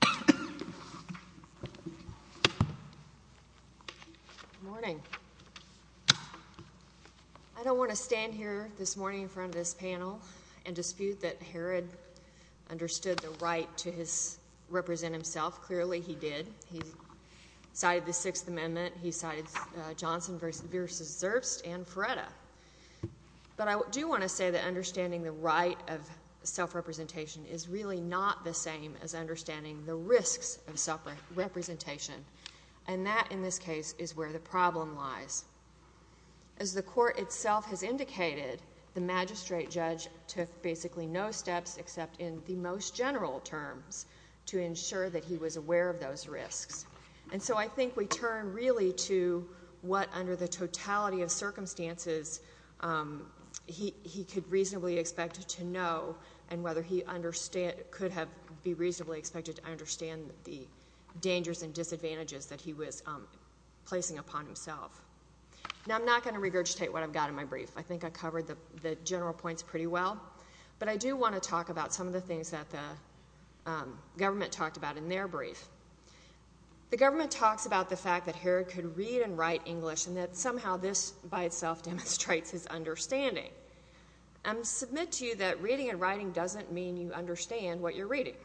Good morning. I don't want to stand here this morning in front of this panel and dispute that Herrod understood the right to represent himself. Clearly he did. He cited the Sixth Amendment. He cited Johnson v. Zerst and Feretta. But I do want to say that understanding the same as understanding the risks of self-representation. And that, in this case, is where the problem lies. As the Court itself has indicated, the magistrate judge took basically no steps except in the most general terms to ensure that he was aware of those risks. And so I think we turn really to what, under the totality of circumstances, he could reasonably expect to know and whether he could have been reasonably expected to understand the dangers and disadvantages that he was placing upon himself. Now I'm not going to regurgitate what I've got in my brief. I think I've covered the general points pretty well. But I do want to talk about some of the things that the government talked about in their brief. The government talks about the fact that Herrod could read and write English and that somehow this by doesn't mean you understand what you're reading.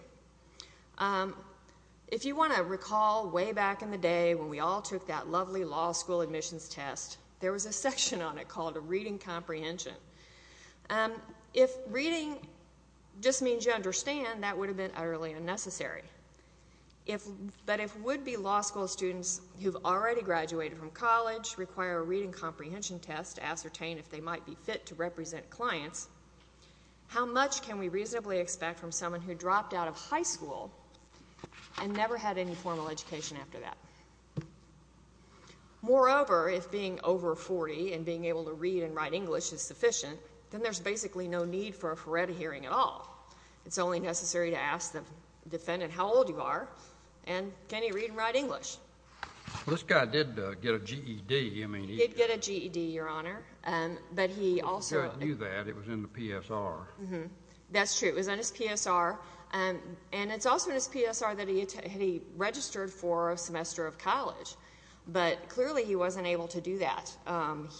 If you want to recall way back in the day when we all took that lovely law school admissions test, there was a section on it called a reading comprehension. If reading just means you understand, that would have been utterly unnecessary. But if would-be law school students who've already graduated from college require a reading comprehension test to ascertain if they might be fit to represent clients, how much can we reasonably expect from someone who dropped out of high school and never had any formal education after that? Moreover, if being over 40 and being able to read and write English is sufficient, then there's basically no need for a Ferretti hearing at all. It's only necessary to ask the defendant how old you are and can he read and write English. Well, this guy did get a GED. He did get a GED, Your Honor. But he also- I knew that. It was in the PSR. That's true. It was in his PSR. And it's also in his PSR that he registered for a semester of college. But clearly he wasn't able to do that.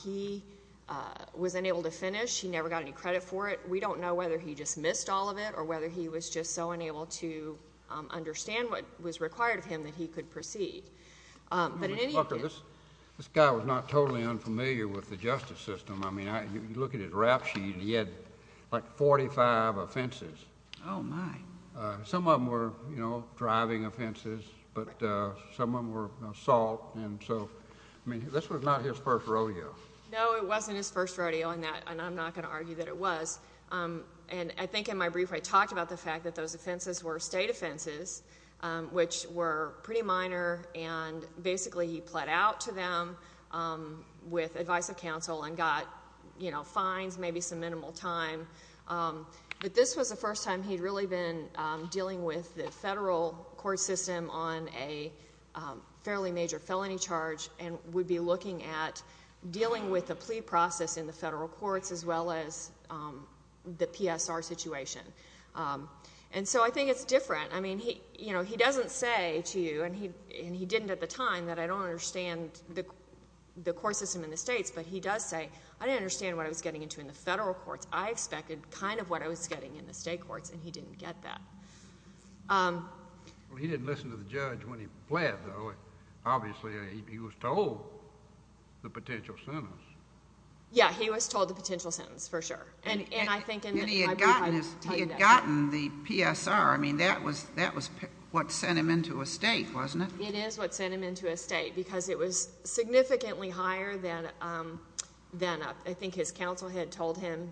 He was unable to finish. He never got any credit for it. We don't know whether he just missed all of it or whether he was just so unable to understand what was required of him that he could proceed. But in any event- Mr. Booker, this guy was not totally unfamiliar with the justice system. I mean, you look at his rap sheet and he had like 45 offenses. Oh, my. Some of them were, you know, driving offenses, but some of them were assault. And so, I mean, this was not his first rodeo. No, it wasn't his first rodeo, and I'm not going to argue that it was. And I think in my brief I talked about the fact that those offenses were state offenses, which were pretty minor, and basically he pled out to them with advice of counsel and got, you know, fines, maybe some minimal time. But this was the first time he'd really been dealing with the federal court system on a fairly major felony charge and would be looking at dealing with And so I think it's different. I mean, he doesn't say to you, and he didn't at the time, that I don't understand the court system in the states, but he does say, I didn't understand what I was getting into in the federal courts. I expected kind of what I was getting in the state courts, and he didn't get that. He didn't listen to the judge when he pled, though. Obviously, he was told the potential sentence. Yeah, he was told the potential sentence, for sure. And he had gotten the PSR. I mean, that was what sent him into a state, wasn't it? It is what sent him into a state, because it was significantly higher than I think his counsel had told him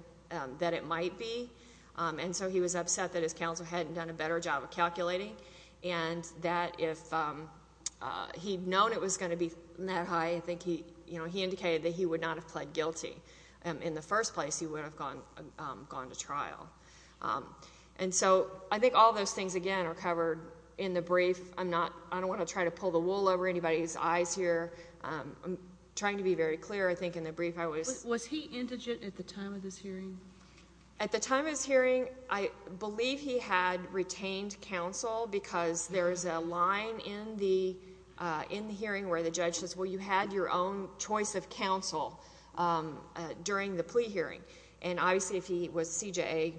that it might be. And so he was upset that his counsel hadn't done a better job of calculating and that if he'd known it was going to be that high, I think he indicated that he would not have pled guilty in the first place. He would have gone to trial. And so I think all those things, again, are covered in the brief. I'm not, I don't want to try to pull the wool over anybody's eyes here. I'm trying to be very clear, I think in the brief, I was... Was he indigent at the time of this hearing? At the time of this hearing, I believe he had retained counsel, because there is a line in the hearing where the judge says, well, you had your own choice of counsel during the plea hearing. And obviously, if he was CJA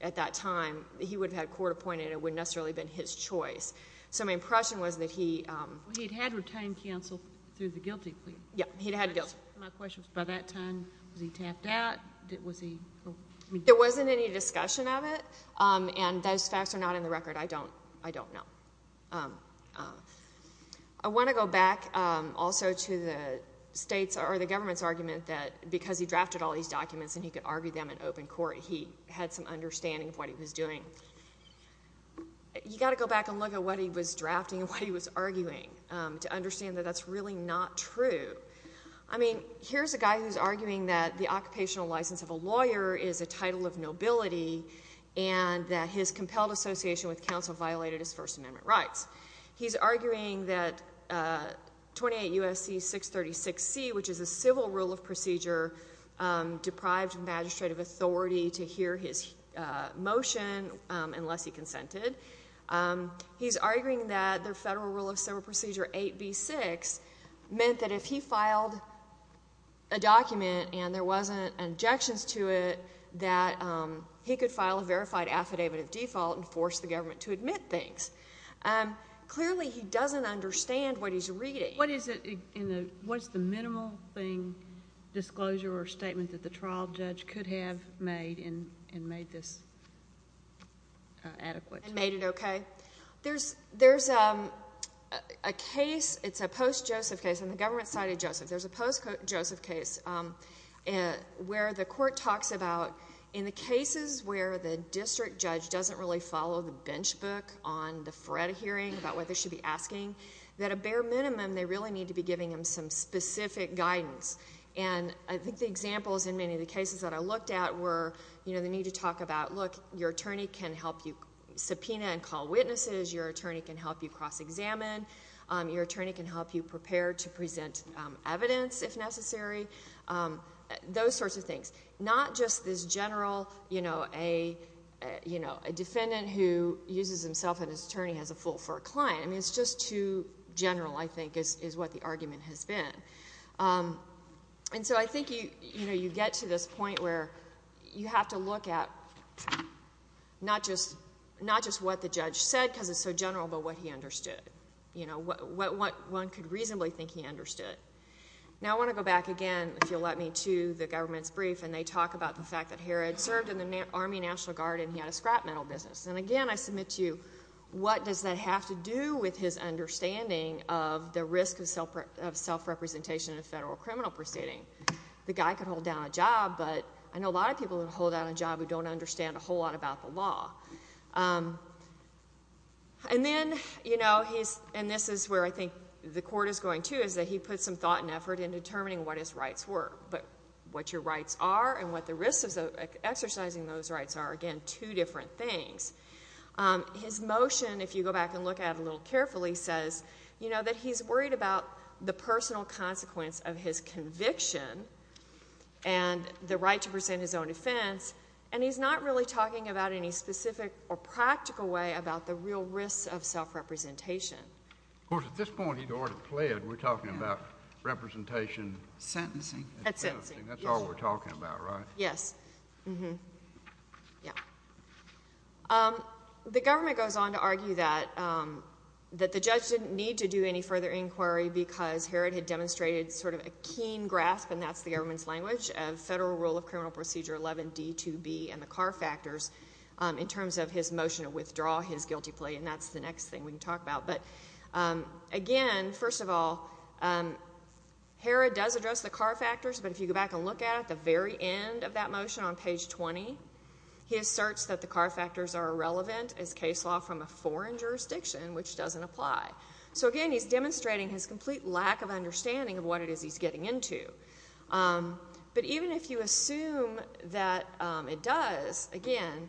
at that time, he would have had court appointed. It wouldn't necessarily have been his choice. So my impression was that he... Well, he'd had retained counsel through the guilty plea. Yeah, he'd had guilty. My question was, by that time, was he tapped out? Was he... There wasn't any discussion of it, and those facts are not in the record. I don't know. I want to go back also to the state's, or the government's, argument that because he drafted all these documents and he could argue them in open court, he had some understanding of what he was doing. You've got to go back and look at what he was drafting and what he was arguing to understand that that's really not true. I mean, here's a guy who's arguing that the occupational license of a lawyer is a title of nobility and that his compelled association with counsel violated his First Amendment rights. He's arguing that 28 U.S.C. 636C, which is a civil rule of procedure, deprived magistrate of authority to hear his motion unless he consented. He's arguing that the federal rule of civil procedure 8B6 meant that if he filed a document and there wasn't injections to it, that he could file a verified affidavit of default and force the government to admit things. Clearly, he doesn't understand what he's reading. What is the minimal thing, disclosure or statement, that the trial judge could have made and made this adequate? And made it okay? There's a case, it's a post-Joseph case, on the government side of Joseph. There's a post-Joseph case where the court talks about in the cases where the district judge doesn't really follow the bench book on the FRED hearing about what they should be asking, that a bare minimum, they really need to be giving him some specific guidance. And I think the examples in many of the cases that I looked at were, they need to talk about, look, your attorney can help you subpoena and call witnesses. Your attorney can help you cross-examine. Your attorney can help you prepare to present evidence, if necessary. Those sorts of things. Not just this general, you know, a defendant who uses himself and his attorney as a fool for a client. I mean, it's just too general, I think, is what the argument has been. And so I think you get to this point where you have to look at not just what the judge said, because it's so general, but what he understood. You know, what one could reasonably think he understood. Now, I want to go back again, if you'll let me, to the government's brief, and they talk about the fact that Harrod served in the Army National Guard and he had a scrap metal business. And again, I submit to you, what does that have to do with his understanding of the risk of self-representation in a federal that don't understand a whole lot about the law. And then, you know, and this is where I think the court is going to, is that he put some thought and effort into determining what his rights were. But what your rights are and what the risks of exercising those rights are, again, two different things. His motion, if you go back and look at it a little carefully, says, you know, that he's worried about the personal consequence of his conviction and the right to present his own defense. And he's not really talking about any specific or practical way about the real risks of self-representation. Of course, at this point, he'd already pled. We're talking about representation. Sentencing. Sentencing. That's all we're talking about, right? Yes. Mm-hmm. Yeah. The government goes on to argue that the judge didn't need to do any further inquiry because Herod had demonstrated sort of a keen grasp, and that's the government's language, of Federal Rule of Criminal Procedure 11D2B and the Carr Factors in terms of his motion to withdraw his guilty plea. And that's the next thing we can talk about. But again, first of all, Herod does address the Carr Factors. But if you go back and look at it, at the very end of that motion on page 20, he asserts that the Carr Factors are irrelevant as case law from a foreign jurisdiction, which doesn't apply. So again, he's demonstrating his complete lack of understanding of what it is he's getting into. But even if you assume that it does, again,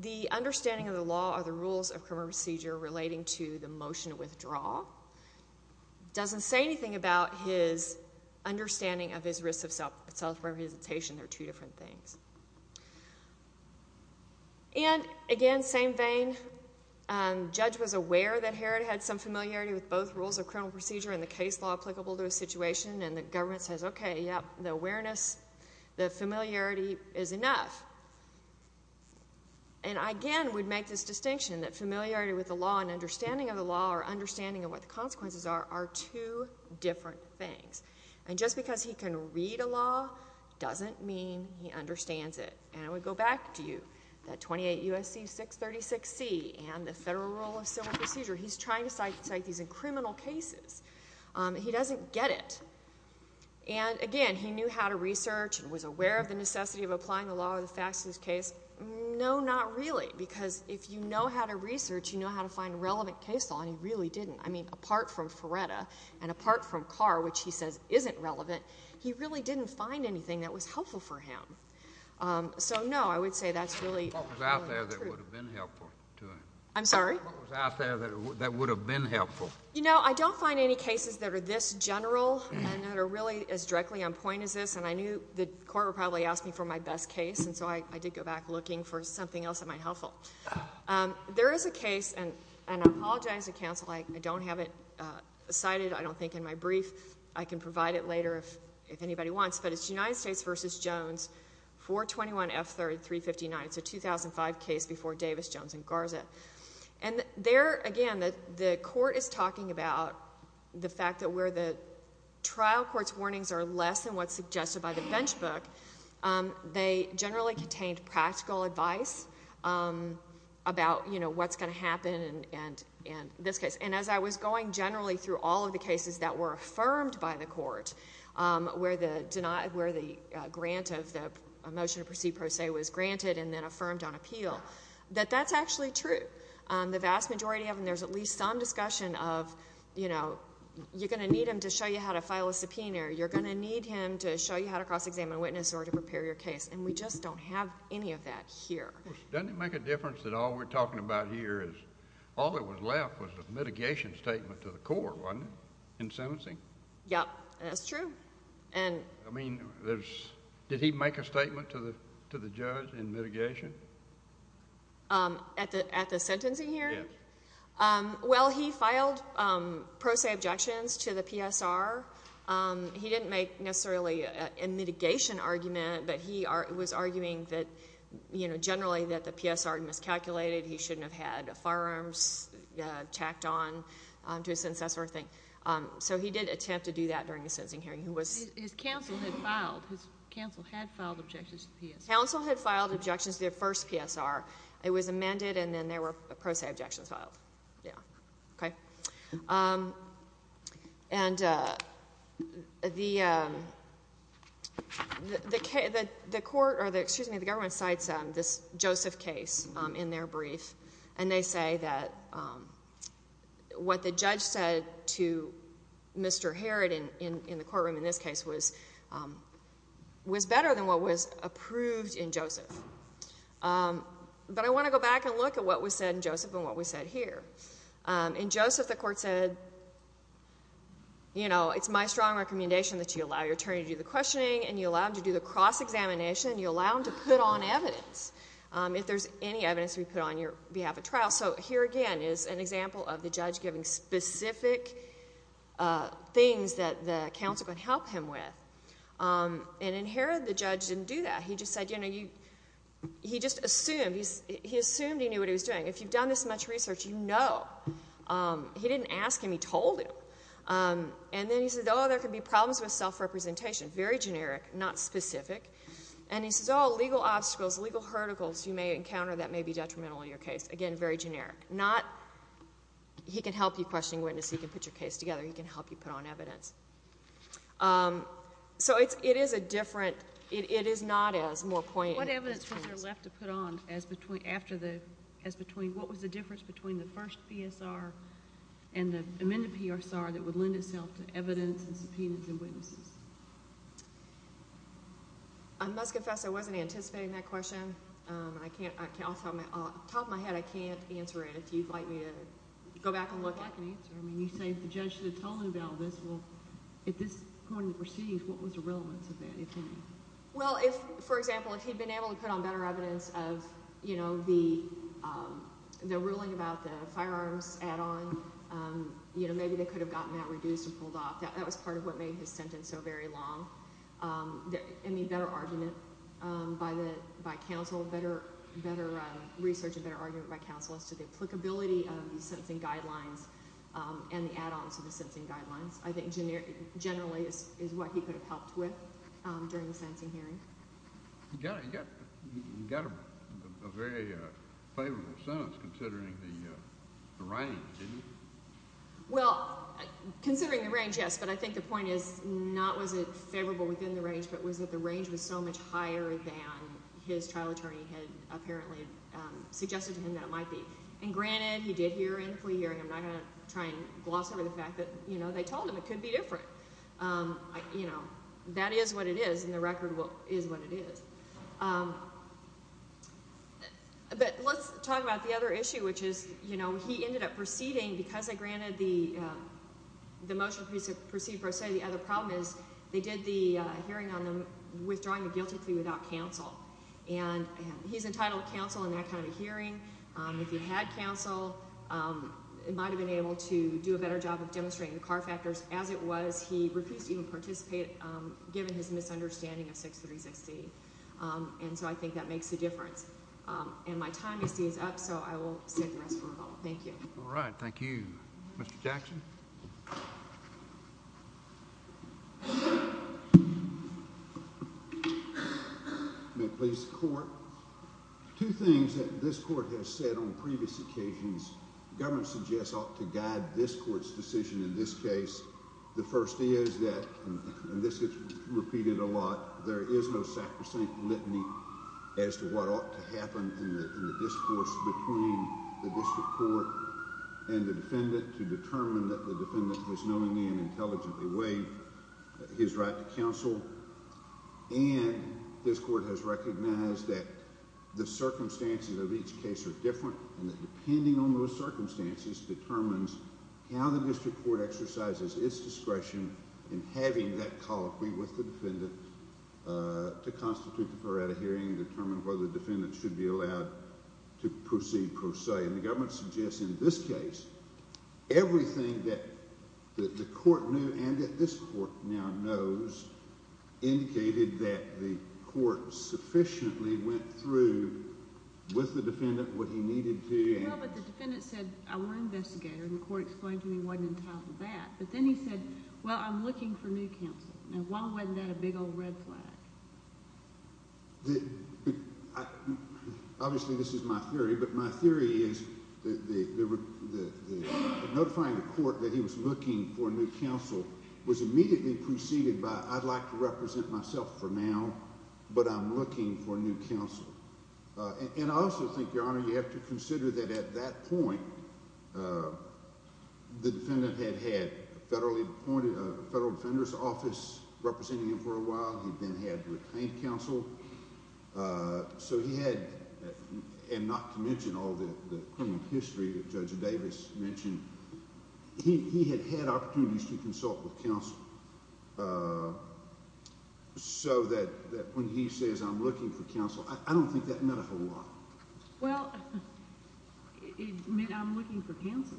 the understanding of the law or the rules of criminal procedure relating to the motion to withdraw doesn't say anything about his understanding of his risks of self-representation. They're two different things. And again, same vein, the judge was aware that Herod had some familiarity with both rules of criminal procedure and the case law applicable to a situation, and the government says, okay, yep, the awareness, the familiarity is enough. And I again would make this distinction that familiarity with the law and understanding of the law or understanding of what the consequences are are two different things. And just because he can read a law doesn't mean he understands it. And I would go back to you, that 28 U.S.C. 636C and the Federal Rule of Civil Procedure, he's trying to cite these in criminal cases. He doesn't get it. And again, he knew how to research and was aware of the necessity of applying the law or the facts to this case. No, not really, because if you know how to research, you know how to find relevant case law, and he really didn't. I mean, apart from Ferretta and apart from Carr, which he says isn't relevant, he really didn't find anything that was helpful for him. So no, I would say that's really not true. What was out there that would have been helpful to him? I'm sorry? What was out there that would have been helpful? You know, I don't find any cases that are this general and that are really as directly on point as this, and I knew the court would probably ask me for my best case, and so I did go back looking for something else that might be helpful. There is a case, and I apologize to counsel, I don't have it cited, I don't think, in my brief. I can provide it later if anybody wants, but it's United States v. Jones, 421F3, 359. It's a 2005 case before Davis, Jones, and Garza. And there, again, the court is talking about the fact that where the trial court's warnings are less than what's suggested by the bench book, they generally contained practical advice about, you know, what's going to happen in this case. And as I was going generally through all of the cases that were affirmed by the court, where the grant of the motion to proceed pro se was granted and then affirmed on appeal, that that's actually true. The vast majority of them, there's at least some discussion of, you know, you're going to need him to show you how to file a subpoena, or you're going to need him to show you how to cross-examine a witness in order to prepare your case. And we just don't have any of that here. Doesn't it make a difference that all we're talking about here is, all that was left was a mitigation statement to the court, wasn't it, in sentencing? Yeah, that's true. I mean, did he make a statement to the judge in mitigation? At the sentencing hearing? Yes. Well, he filed pro se objections to the PSR. He didn't make necessarily a mitigation argument, but he was arguing that, you know, generally that the PSR miscalculated, he shouldn't have had firearms tacked on to his senses, that sort of thing. So he did attempt to do that during the sentencing hearing. His counsel had filed objections to the PSR. Counsel had filed objections to the first PSR. It was amended, and then there were pro se objections filed. Yeah. Okay? And the court, or excuse me, the government cites this Joseph case in their brief, and they say that what the judge said to Mr. in this case was better than what was approved in Joseph. But I want to go back and look at what was said in Joseph and what was said here. In Joseph, the court said, you know, it's my strong recommendation that you allow your attorney to do the questioning, and you allow him to do the cross-examination, and you allow him to put on evidence, if there's any evidence to be put on your behalf at trial. So here, again, is an example of specific things that the counsel could help him with. And in Herod, the judge didn't do that. He just said, you know, he just assumed. He assumed he knew what he was doing. If you've done this much research, you know. He didn't ask him. He told him. And then he said, oh, there could be problems with self-representation. Very generic, not specific. And he says, oh, legal obstacles, legal verticals you may encounter that may be detrimental in your case. Again, very generic. Not, he can help you question a witness. He can put your case together. He can help you put on evidence. So it is a different, it is not as more poignant. What evidence was there left to put on as between, after the, as between, what was the difference between the first PSR and the amended PSR that would lend itself to evidence and subpoenas and witnesses? I must confess I wasn't anticipating that question. I can't, off the top of my head, I can't answer it. If you'd like me to go back and look at it. If you'd like an answer, I mean, you say the judge should have told him about this. Well, at this point in the proceedings, what was the relevance of that, if any? Well, if, for example, if he'd been able to put on better evidence of, you know, the, the ruling about the firearms add-on, you know, maybe they could have gotten that reduced or pulled off. That was part of what made his sentence so very long. I mean, better argument by the, by counsel, better, better research and better argument by counsel as to the applicability of the sentencing guidelines and the add-ons to the sentencing guidelines, I think generally is what he could have helped with during the sentencing hearing. You got a very favorable sentence considering the range, didn't you? Well, considering the range, yes, but I think the point is not was it favorable within the range, but was that the range was so much higher than his trial attorney had apparently suggested to him that it might be. And granted, he did hear in the plea hearing. I'm not going to try and gloss over the fact that, you know, they told him it could be different. You know, that is what it is, and the record is what it is. But let's talk about the other issue, which is, you know, he ended up proceeding because they granted the motion to proceed pro se. The other problem is they did the hearing on withdrawing the guilty plea without counsel, and he's entitled to counsel in that kind of a hearing. If he had counsel, he might have been able to do a better job of demonstrating the car factors. As it was, he refused to even participate given his misunderstanding of 636D, and so I think that makes a difference. And my time, you see, is up, so I will save the rest for a moment. Thank you. All right. Thank you. Mr. Jackson? May it please the Court? Two things that this Court has said on previous occasions. The government suggests ought to guide this Court's decision in this case. The first is that, and this gets repeated a lot, there is no sacrosanct litany as to what ought to happen in the discourse between the district court and the defendant to determine that the defendant has knowingly and intelligently waived his right to counsel. And this Court has recognized that the circumstances of each case are different, and that depending on those circumstances determines how the district court exercises its discretion in having that colloquy with the defendant should be allowed to proceed per se. And the government suggests in this case, everything that the Court knew and that this Court now knows indicated that the Court sufficiently went through with the defendant what he needed to. No, but the defendant said, I want an investigator, and the Court explained to me what entitled that. But then he said, well, I'm looking for new counsel. Now, why wasn't that a big old red flag? Obviously, this is my theory. But my theory is that notifying the Court that he was looking for new counsel was immediately preceded by, I'd like to represent myself for now, but I'm looking for new counsel. And I also think, Your Honor, you have to consider that at that point, the defendant had had a federal defender's office representing him for a while. He then had retained counsel. So he had, and not to mention all the criminal history that Judge Davis mentioned, he had had opportunities to consult with counsel so that when he says, I'm looking for counsel, I don't think that meant a whole lot. Well, it meant I'm looking for counsel.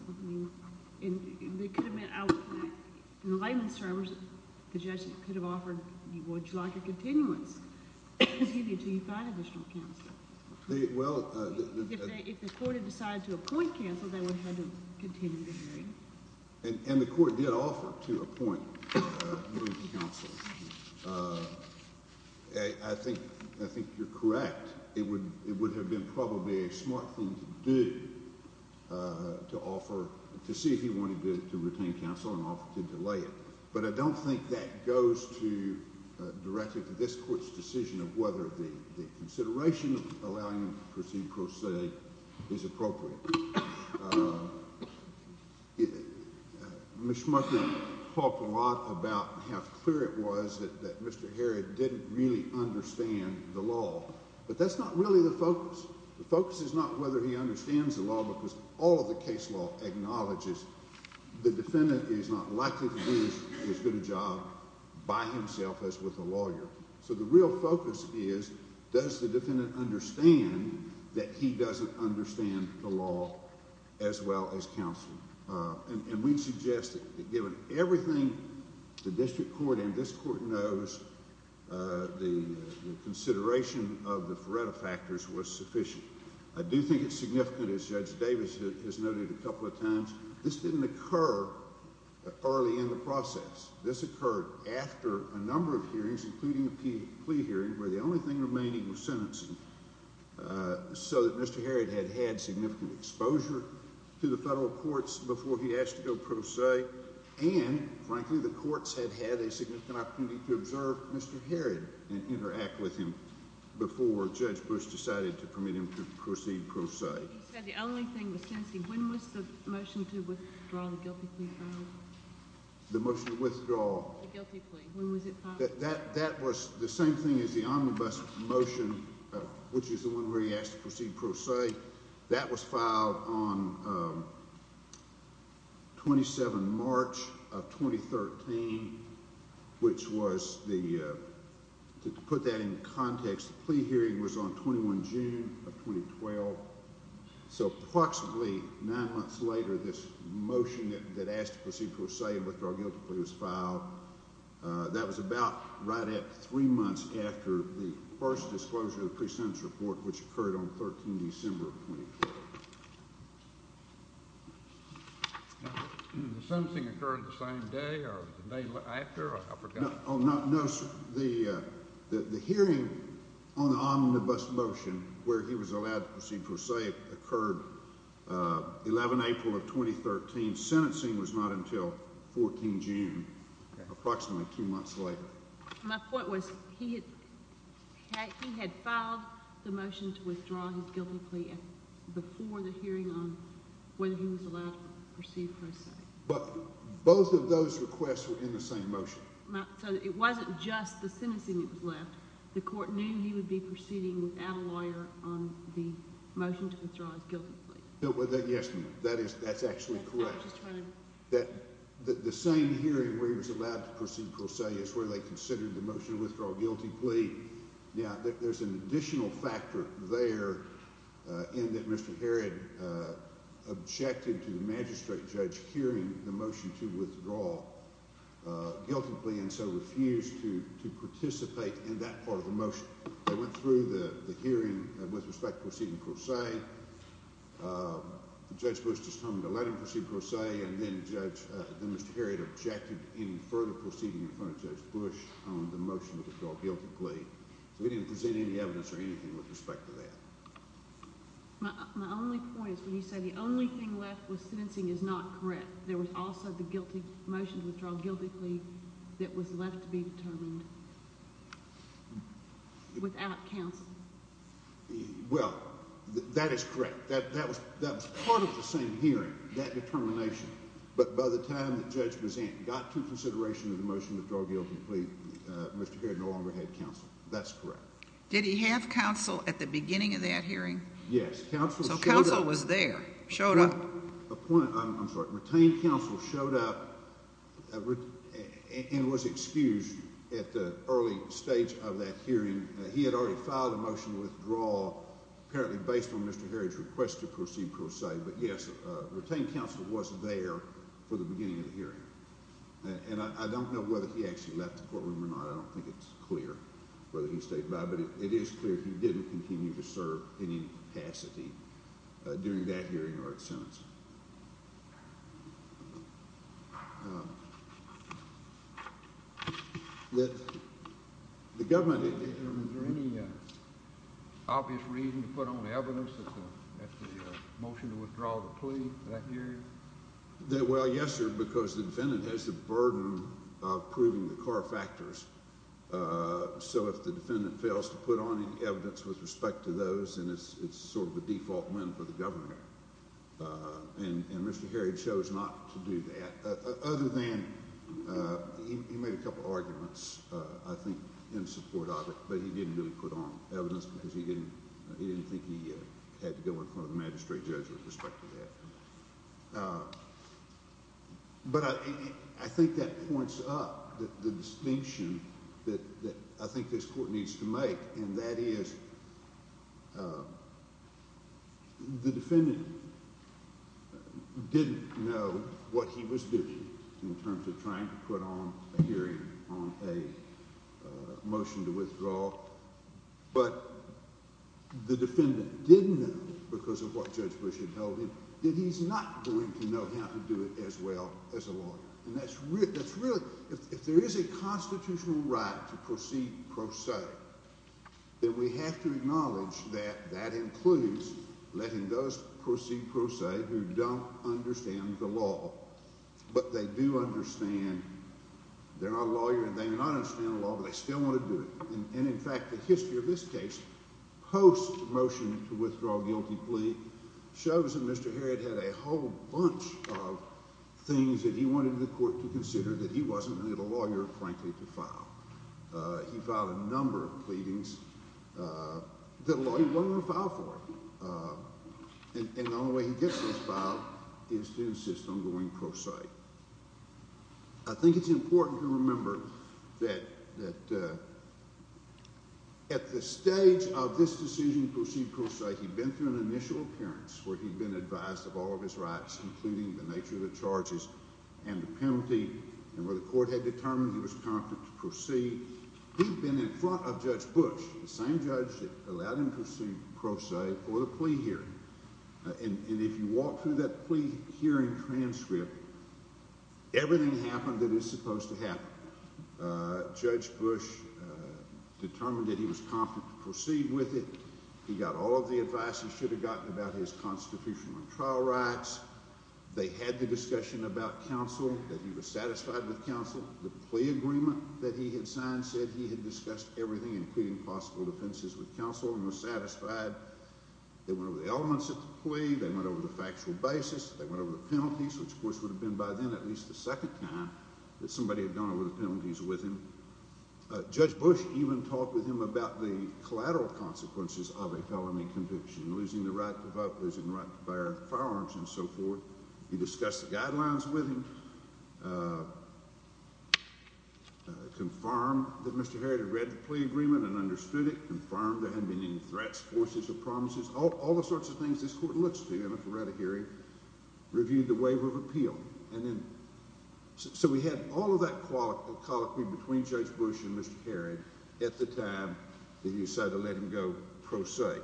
It could have meant I was looking for counsel. I'm concerned the judge could have offered, would you like a continuance? Continue until you've got additional counsel. Well, the If the Court had decided to appoint counsel, they would have had to continue the hearing. And the Court did offer to appoint new counsel. I think you're correct. It would have been probably a smart thing to do to offer, to see if he wanted to retain counsel and offer to delay it. But I don't think that goes directly to this Court's decision of whether the consideration of allowing him to proceed pro se is appropriate. Mr. Muckerman talked a lot about how clear it was that Mr. Herod didn't really understand the law. But that's not really the focus. The focus is not whether he understands the law because all of the case law acknowledges the defendant is not likely to do as good a job by himself as with a lawyer. So the real focus is, does the defendant understand that he doesn't understand the law as well as counsel? And we suggest that given everything the District Court and this Court knows, the consideration of the Feretta factors was sufficient. I do think it's significant, as Judge Davis has noted a couple of times, this didn't occur early in the process. This occurred after a number of hearings, including the plea hearing, where the only thing remaining was sentencing, so that Mr. Herod had had significant exposure to the federal courts before he asked to go pro se. And, frankly, the courts had had a significant opportunity to observe Mr. Herod before Judge Bush decided to permit him to proceed pro se. He said the only thing was sentencing. When was the motion to withdraw the guilty plea filed? The motion to withdraw? The guilty plea. When was it filed? That was the same thing as the omnibus motion, which is the one where he asked to proceed pro se. That was filed on 27 March of 2013, which was the, to put that in context, the plea hearing was on 21 June of 2012. So approximately nine months later, this motion that asked to proceed pro se and withdraw guilty plea was filed. That was about right at three months after the first disclosure of the guilty plea in December of 2012. The sentencing occurred the same day or the day after? I forgot. No, the hearing on the omnibus motion where he was allowed to proceed pro se occurred 11 April of 2013. Sentencing was not until 14 June, approximately two months later. My point was he had filed the motion to withdraw his guilty plea before the hearing on when he was allowed to proceed pro se. But both of those requests were in the same motion. So it wasn't just the sentencing that was left. The court knew he would be proceeding without a lawyer on the motion to withdraw his guilty plea. Yes, ma'am. That's actually correct. The same hearing where he was allowed to proceed pro se is where they considered the motion to withdraw guilty plea. Now, there's an additional factor there in that Mr. Harrod objected to the magistrate judge hearing the motion to withdraw guilty plea and so refused to participate in that part of the motion. They went through the hearing with respect to proceeding pro se. Judge Bush just told them to let him proceed pro se, and then Mr. Harrod objected in further proceeding in front of Judge Bush on the motion to withdraw guilty plea. We didn't present any evidence or anything with respect to that. My only point is when you say the only thing left with sentencing is not correct, there was also the motion to withdraw guilty plea that was left to be determined without counsel. Well, that is correct. That was part of the same hearing, that determination. But by the time that Judge Buzan got to consideration of the motion to withdraw guilty plea, Mr. Harrod no longer had counsel. That's correct. Did he have counsel at the beginning of that hearing? Yes. So counsel was there, showed up. Retained counsel showed up and was excused at the early stage of that hearing. And he had already filed a motion to withdraw, apparently based on Mr. Harrod's request to proceed pro se. But, yes, retained counsel was there for the beginning of the hearing. And I don't know whether he actually left the courtroom or not. I don't think it's clear whether he stayed by. But it is clear he didn't continue to serve in any capacity during that hearing or at sentence. The government, is there any obvious reason to put on evidence at the motion to withdraw the plea at that hearing? Well, yes, sir, because the defendant has the burden of proving the car factors. So if the defendant fails to put on any evidence with respect to those, then it's sort of a default win for the government. And Mr. Harrod chose not to do that. Other than he made a couple arguments, I think, in support of it. But he didn't really put on evidence because he didn't think he had to go in front of the magistrate judge with respect to that. But I think that points up the distinction that I think this court needs to make, and that is the defendant didn't know what he was doing in terms of trying to put on a hearing on a motion to withdraw. But the defendant didn't know, because of what Judge Bush had told him, that he's not going to know how to do it as well as a lawyer. And that's really, if there is a constitutional right to proceed pro se, then we have to acknowledge that that includes letting those proceed pro se who don't understand the law, but they do understand they're not a lawyer and they do not understand the law, but they still want to do it. And, in fact, the history of this case, post-motion to withdraw guilty plea, shows that Mr. Harrod had a whole bunch of things that he wanted the court to consider that he wasn't really the lawyer, frankly, to file. He filed a number of pleadings that a lawyer wouldn't want to file for. And the only way he gets those filed is to insist on going pro se. I think it's important to remember that at the stage of this decision to proceed pro se, he'd been through an initial appearance where he'd been advised of all of his rights, including the nature of the charges and the penalty, and where the court had determined he was competent to proceed. He'd been in front of Judge Bush, the same judge that allowed him to proceed pro se, for the plea hearing. And if you walk through that plea hearing transcript, everything happened that is supposed to happen. Judge Bush determined that he was competent to proceed with it. He got all of the advice he should have gotten about his constitutional and trial rights. They had the discussion about counsel, that he was satisfied with counsel. The plea agreement that he had signed said he had discussed everything, including possible offenses with counsel, and was satisfied. They went over the elements of the plea. They went over the factual basis. They went over the penalties, which, of course, would have been by then at least the second time that somebody had gone over the penalties with him. Judge Bush even talked with him about the collateral consequences of a felony conviction, losing the right to vote, losing the right to fire firearms, and so forth. He discussed the guidelines with him. Confirmed that Mr. Herrod had read the plea agreement and understood it. Confirmed there hadn't been any threats, forces, or promises, all the sorts of things this court looks to, you know, for right of hearing. Reviewed the waiver of appeal. So we had all of that colloquy between Judge Bush and Mr. Herrod at the time that he decided to let him go pro se.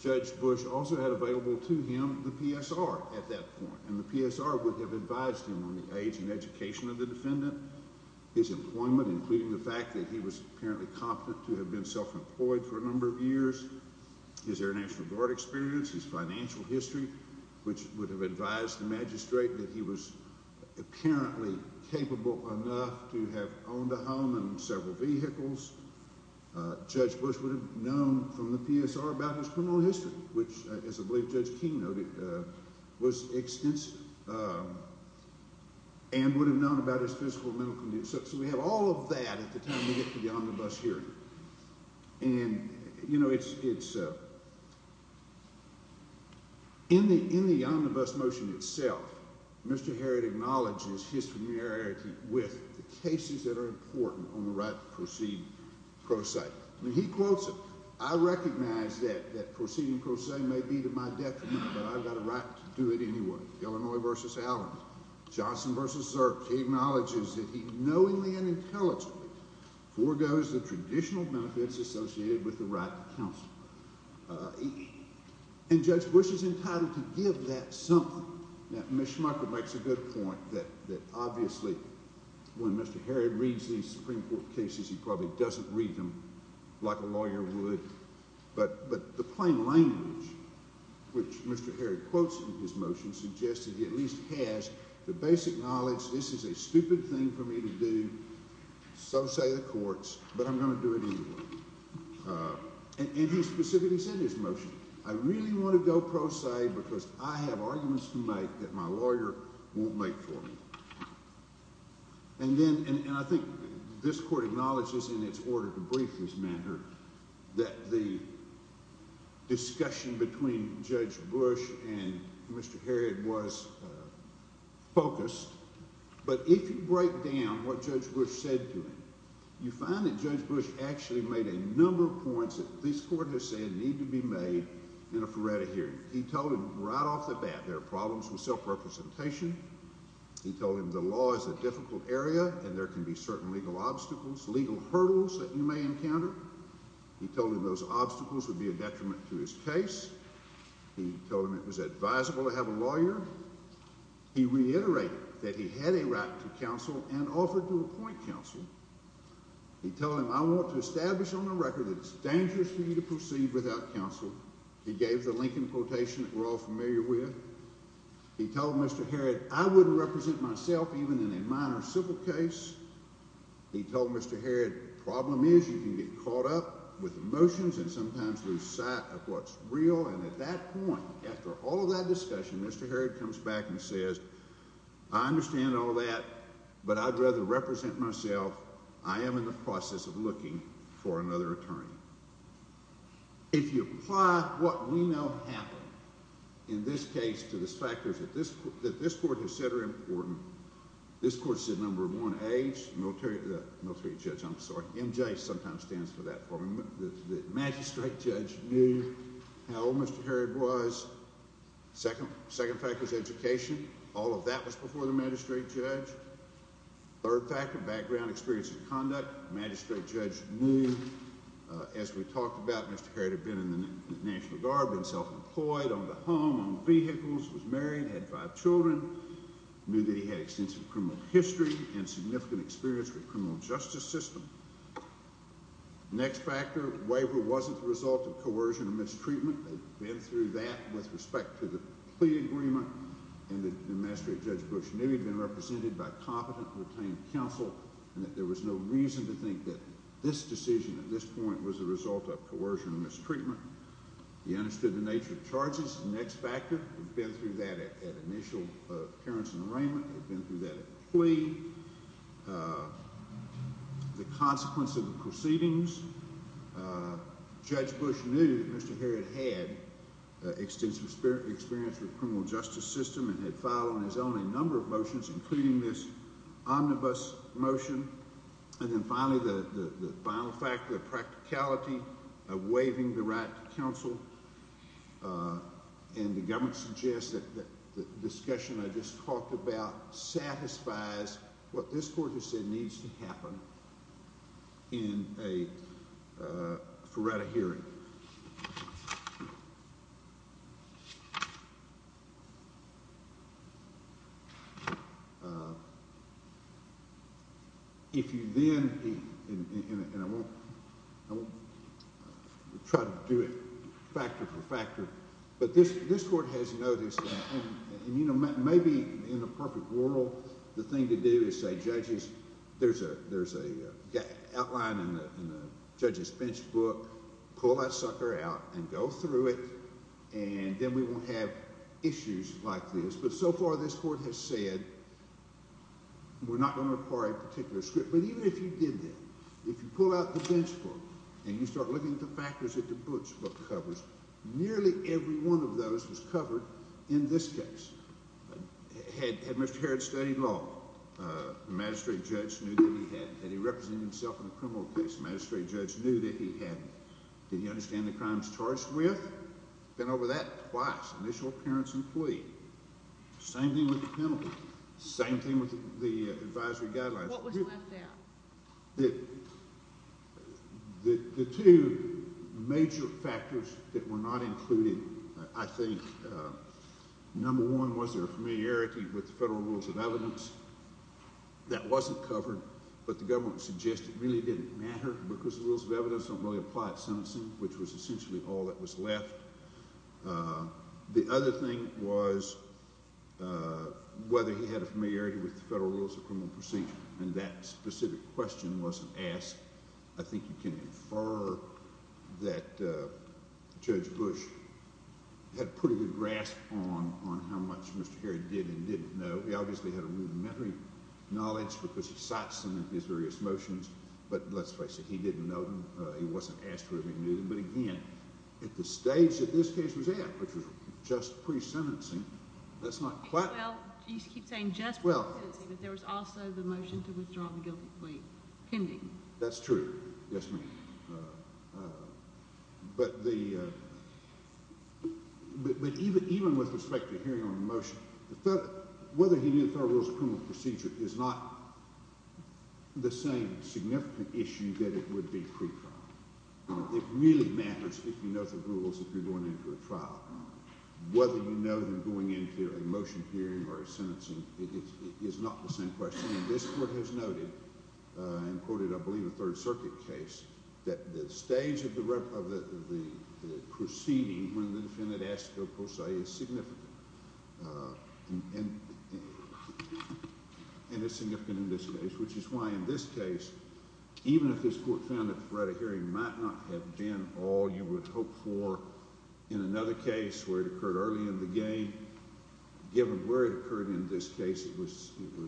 Judge Bush also had available to him the PSR at that point, and the PSR would have advised him on the age and education of the defendant, his employment, including the fact that he was apparently confident to have been self-employed for a number of years, his Air National Guard experience, his financial history, which would have advised the magistrate that he was apparently capable enough to have owned a home and several vehicles. Judge Bush would have known from the PSR about his criminal history, which, as I believe Judge Keene noted, was extensive, and would have known about his physical and mental condition. So we have all of that at the time we get to the omnibus hearing. And, you know, in the omnibus motion itself, Mr. Herrod acknowledges his familiarity with the cases that are important on the right to proceed pro se. I mean, he quotes it. I recognize that proceeding pro se may be to my detriment, but I've got a right to do it anyway. Illinois v. Allen. Johnson v. Zirk, he acknowledges that he knowingly and intelligently forgoes the traditional benefits associated with the right to counsel. And Judge Bush is entitled to give that something. Now, Ms. Schmeichel makes a good point that, obviously, when Mr. Herrod reads these Supreme Court cases, he probably doesn't read them like a lawyer would. But the plain language, which Mr. Herrod quotes in his motion, suggests that he at least has the basic knowledge, this is a stupid thing for me to do, so say the courts, but I'm going to do it anyway. And he specifically said in his motion, I really want to go pro se because I have arguments to make that my lawyer won't make for me. And I think this court acknowledges in its order to brief this matter that the discussion between Judge Bush and Mr. Herrod was focused. But if you break down what Judge Bush said to him, you find that Judge Bush actually made a number of points that this court has said need to be made in a Ferretta hearing. He told him right off the bat there are problems with self-representation. He told him the law is a difficult area and there can be certain legal obstacles, legal hurdles that you may encounter. He told him those obstacles would be a detriment to his case. He told him it was advisable to have a lawyer. He reiterated that he had a right to counsel and offered to appoint counsel. He told him, I want to establish on the record that it's dangerous for you to proceed without counsel. He gave the Lincoln quotation that we're all familiar with. He told Mr. Herrod, I wouldn't represent myself even in a minor civil case. He told Mr. Herrod, the problem is you can get caught up with emotions and sometimes lose sight of what's real. And at that point, after all of that discussion, Mr. Herrod comes back and says, I understand all that, but I'd rather represent myself. I am in the process of looking for another attorney. If you apply what we know happened in this case to the factors that this court has said are important, this court said number one, age, military judge, I'm sorry. MJ sometimes stands for that for me. The magistrate judge knew how old Mr. Herrod was. Second fact was education. All of that was before the magistrate judge. Third fact, a background experience in conduct. The magistrate judge knew. As we talked about, Mr. Herrod had been in the National Guard, been self-employed, owned a home, owned vehicles, was married, had five children, knew that he had extensive criminal history and significant experience with the criminal justice system. Next factor, waiver wasn't the result of coercion or mistreatment. They'd been through that with respect to the plea agreement. And the magistrate judge Bush knew he'd been represented by competent and retained counsel and that there was no reason to think that this decision at this point was the result of coercion or mistreatment. He understood the nature of charges. Next factor, he'd been through that at initial appearance and arraignment. He'd been through that at the plea. The consequence of the proceedings. Judge Bush knew that Mr. Herrod had extensive experience with the criminal justice system and had filed on his own a number of motions, including this omnibus motion. And then finally, the final factor, the practicality of waiving the right to counsel. And the government suggests that the discussion I just talked about satisfies what this court has said needs to happen for right of hearing. If you then, and I won't try to do it factor for factor, but this court has noticed, and you know, maybe in a perfect world, the thing to do is say judges, there's an outline in the judge's bench book, pull that sucker out and go through it, and then we won't have issues like this. But so far this court has said we're not going to require a particular script. But even if you did that, if you pull out the bench book and you start looking at the factors that the bench book covers, nearly every one of those was covered in this case. Had Mr. Herrod studied law, the magistrate judge knew that he had. Had he represented himself in a criminal case, the magistrate judge knew that he had. Did he understand the crimes charged with? Been over that twice, initial appearance and plea. Same thing with the penalty. Same thing with the advisory guidelines. What was left there? The two major factors that were not included, I think, number one was their familiarity with the federal rules of evidence. That wasn't covered, but the government suggested it really didn't matter because the rules of evidence don't really apply at sentencing, which was essentially all that was left. The other thing was whether he had a familiarity with the federal rules of criminal proceedings, and that specific question wasn't asked. I think you can infer that Judge Bush had pretty good grasp on how much Mr. Herrod did and didn't know. He obviously had rudimentary knowledge because he cites them in his various motions, but let's face it, he didn't know them. He wasn't asked whether he knew them, but again, at the stage that this case was at, which was just pre-sentencing, that's not quite— Well, you keep saying just pre-sentencing, but there was also the motion to withdraw the guilty plea pending. That's true, yes, ma'am. But even with respect to hearing on a motion, whether he knew the federal rules of criminal procedure is not the same significant issue that it would be pre-trial. It really matters if you know the rules if you're going into a trial. Whether you know them going into a motion hearing or a sentencing is not the same question, and this court has noted and quoted, I believe, a Third Circuit case, that the stage of the proceeding when the defendant asks to go pro se is significant. And it's significant in this case, which is why in this case, even if this court found that the threat of hearing might not have been all you would hope for in another case where it occurred early in the game, given where it occurred in this case, it was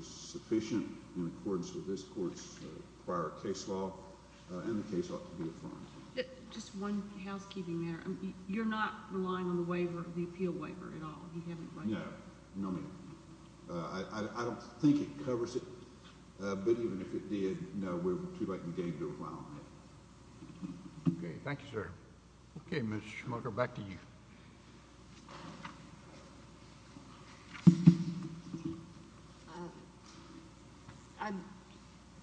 sufficient in accordance with this court's prior case law, and the case ought to be affirmed. Just one housekeeping matter. You're not relying on the waiver, the appeal waiver at all? No, no, ma'am. I don't think it covers it, but even if it did, no, we're too late in getting to a file on it. Okay, thank you, sir. Okay, Mr. Schmucker, back to you.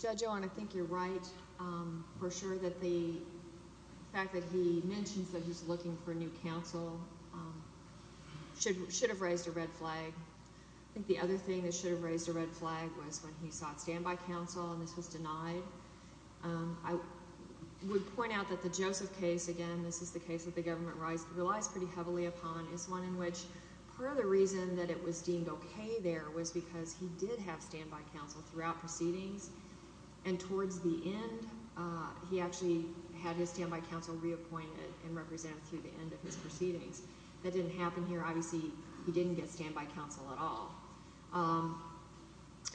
Judge Owen, I think you're right, for sure, that the fact that he mentions that he's looking for new counsel should have raised a red flag. I think the other thing that should have raised a red flag was when he sought standby counsel, and this was denied. I would point out that the Joseph case, again, this is the case that the government relies pretty heavily upon, is one in which part of the reason that it was deemed okay there was because he did have standby counsel throughout proceedings, and towards the end, he actually had his standby counsel reappointed and represented through the end of his proceedings. That didn't happen here. Obviously, he didn't get standby counsel at all.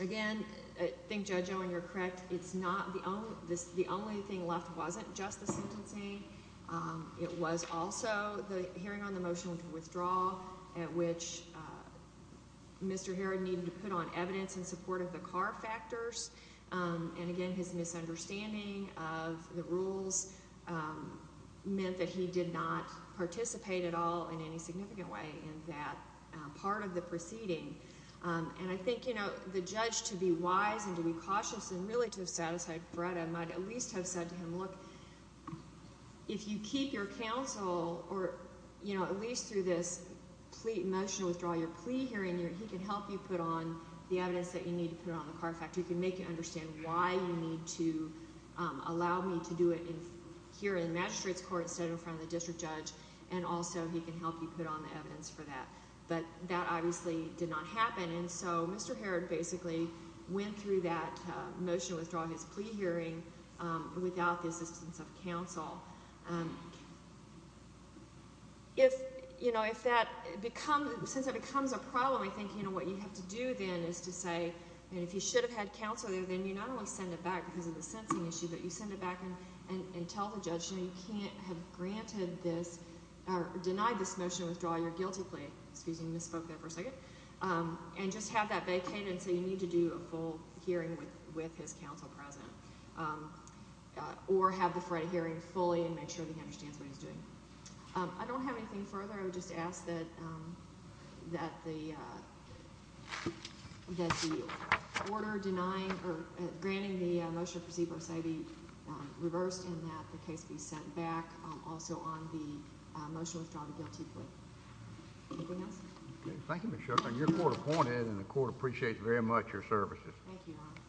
Again, I think, Judge Owen, you're correct. It's not the only thing left. It wasn't just the sentencing. It was also the hearing on the motion to withdraw at which Mr. Herod needed to put on evidence in support of the car factors, and, again, his misunderstanding of the rules meant that he did not participate at all in any significant way in that part of the proceeding. I think the judge, to be wise and to be cautious and really to have satisfied Freda, might at least have said to him, look, if you keep your counsel, or at least through this motion to withdraw your plea hearing, he can help you put on the evidence that you need to put on the car factor. He can make you understand why you need to allow me to do it here in the magistrate's court instead of in front of the district judge, and also he can help you put on the evidence for that. But that obviously did not happen, and so Mr. Herod basically went through that motion to withdraw his plea hearing without the assistance of counsel. If that becomes a problem, I think what you have to do then is to say, and if you should have had counsel there, then you not only send it back because of the sentencing issue, but you send it back and tell the judge, you know, you can't have granted this or denied this motion to withdraw your guilty plea. Excuse me, I misspoke there for a second. And just have that vacated so you need to do a full hearing with his counsel present, or have the Freda hearing fully and make sure that he understands what he's doing. I don't have anything further. I would just ask that the order denying or granting the motion to proceed verse A be reversed and that the case be sent back also on the motion to withdraw the guilty plea. Anything else? Thank you, Ms. Shufflin. You're court appointed, and the court appreciates very much your services. Thank you, Your Honor.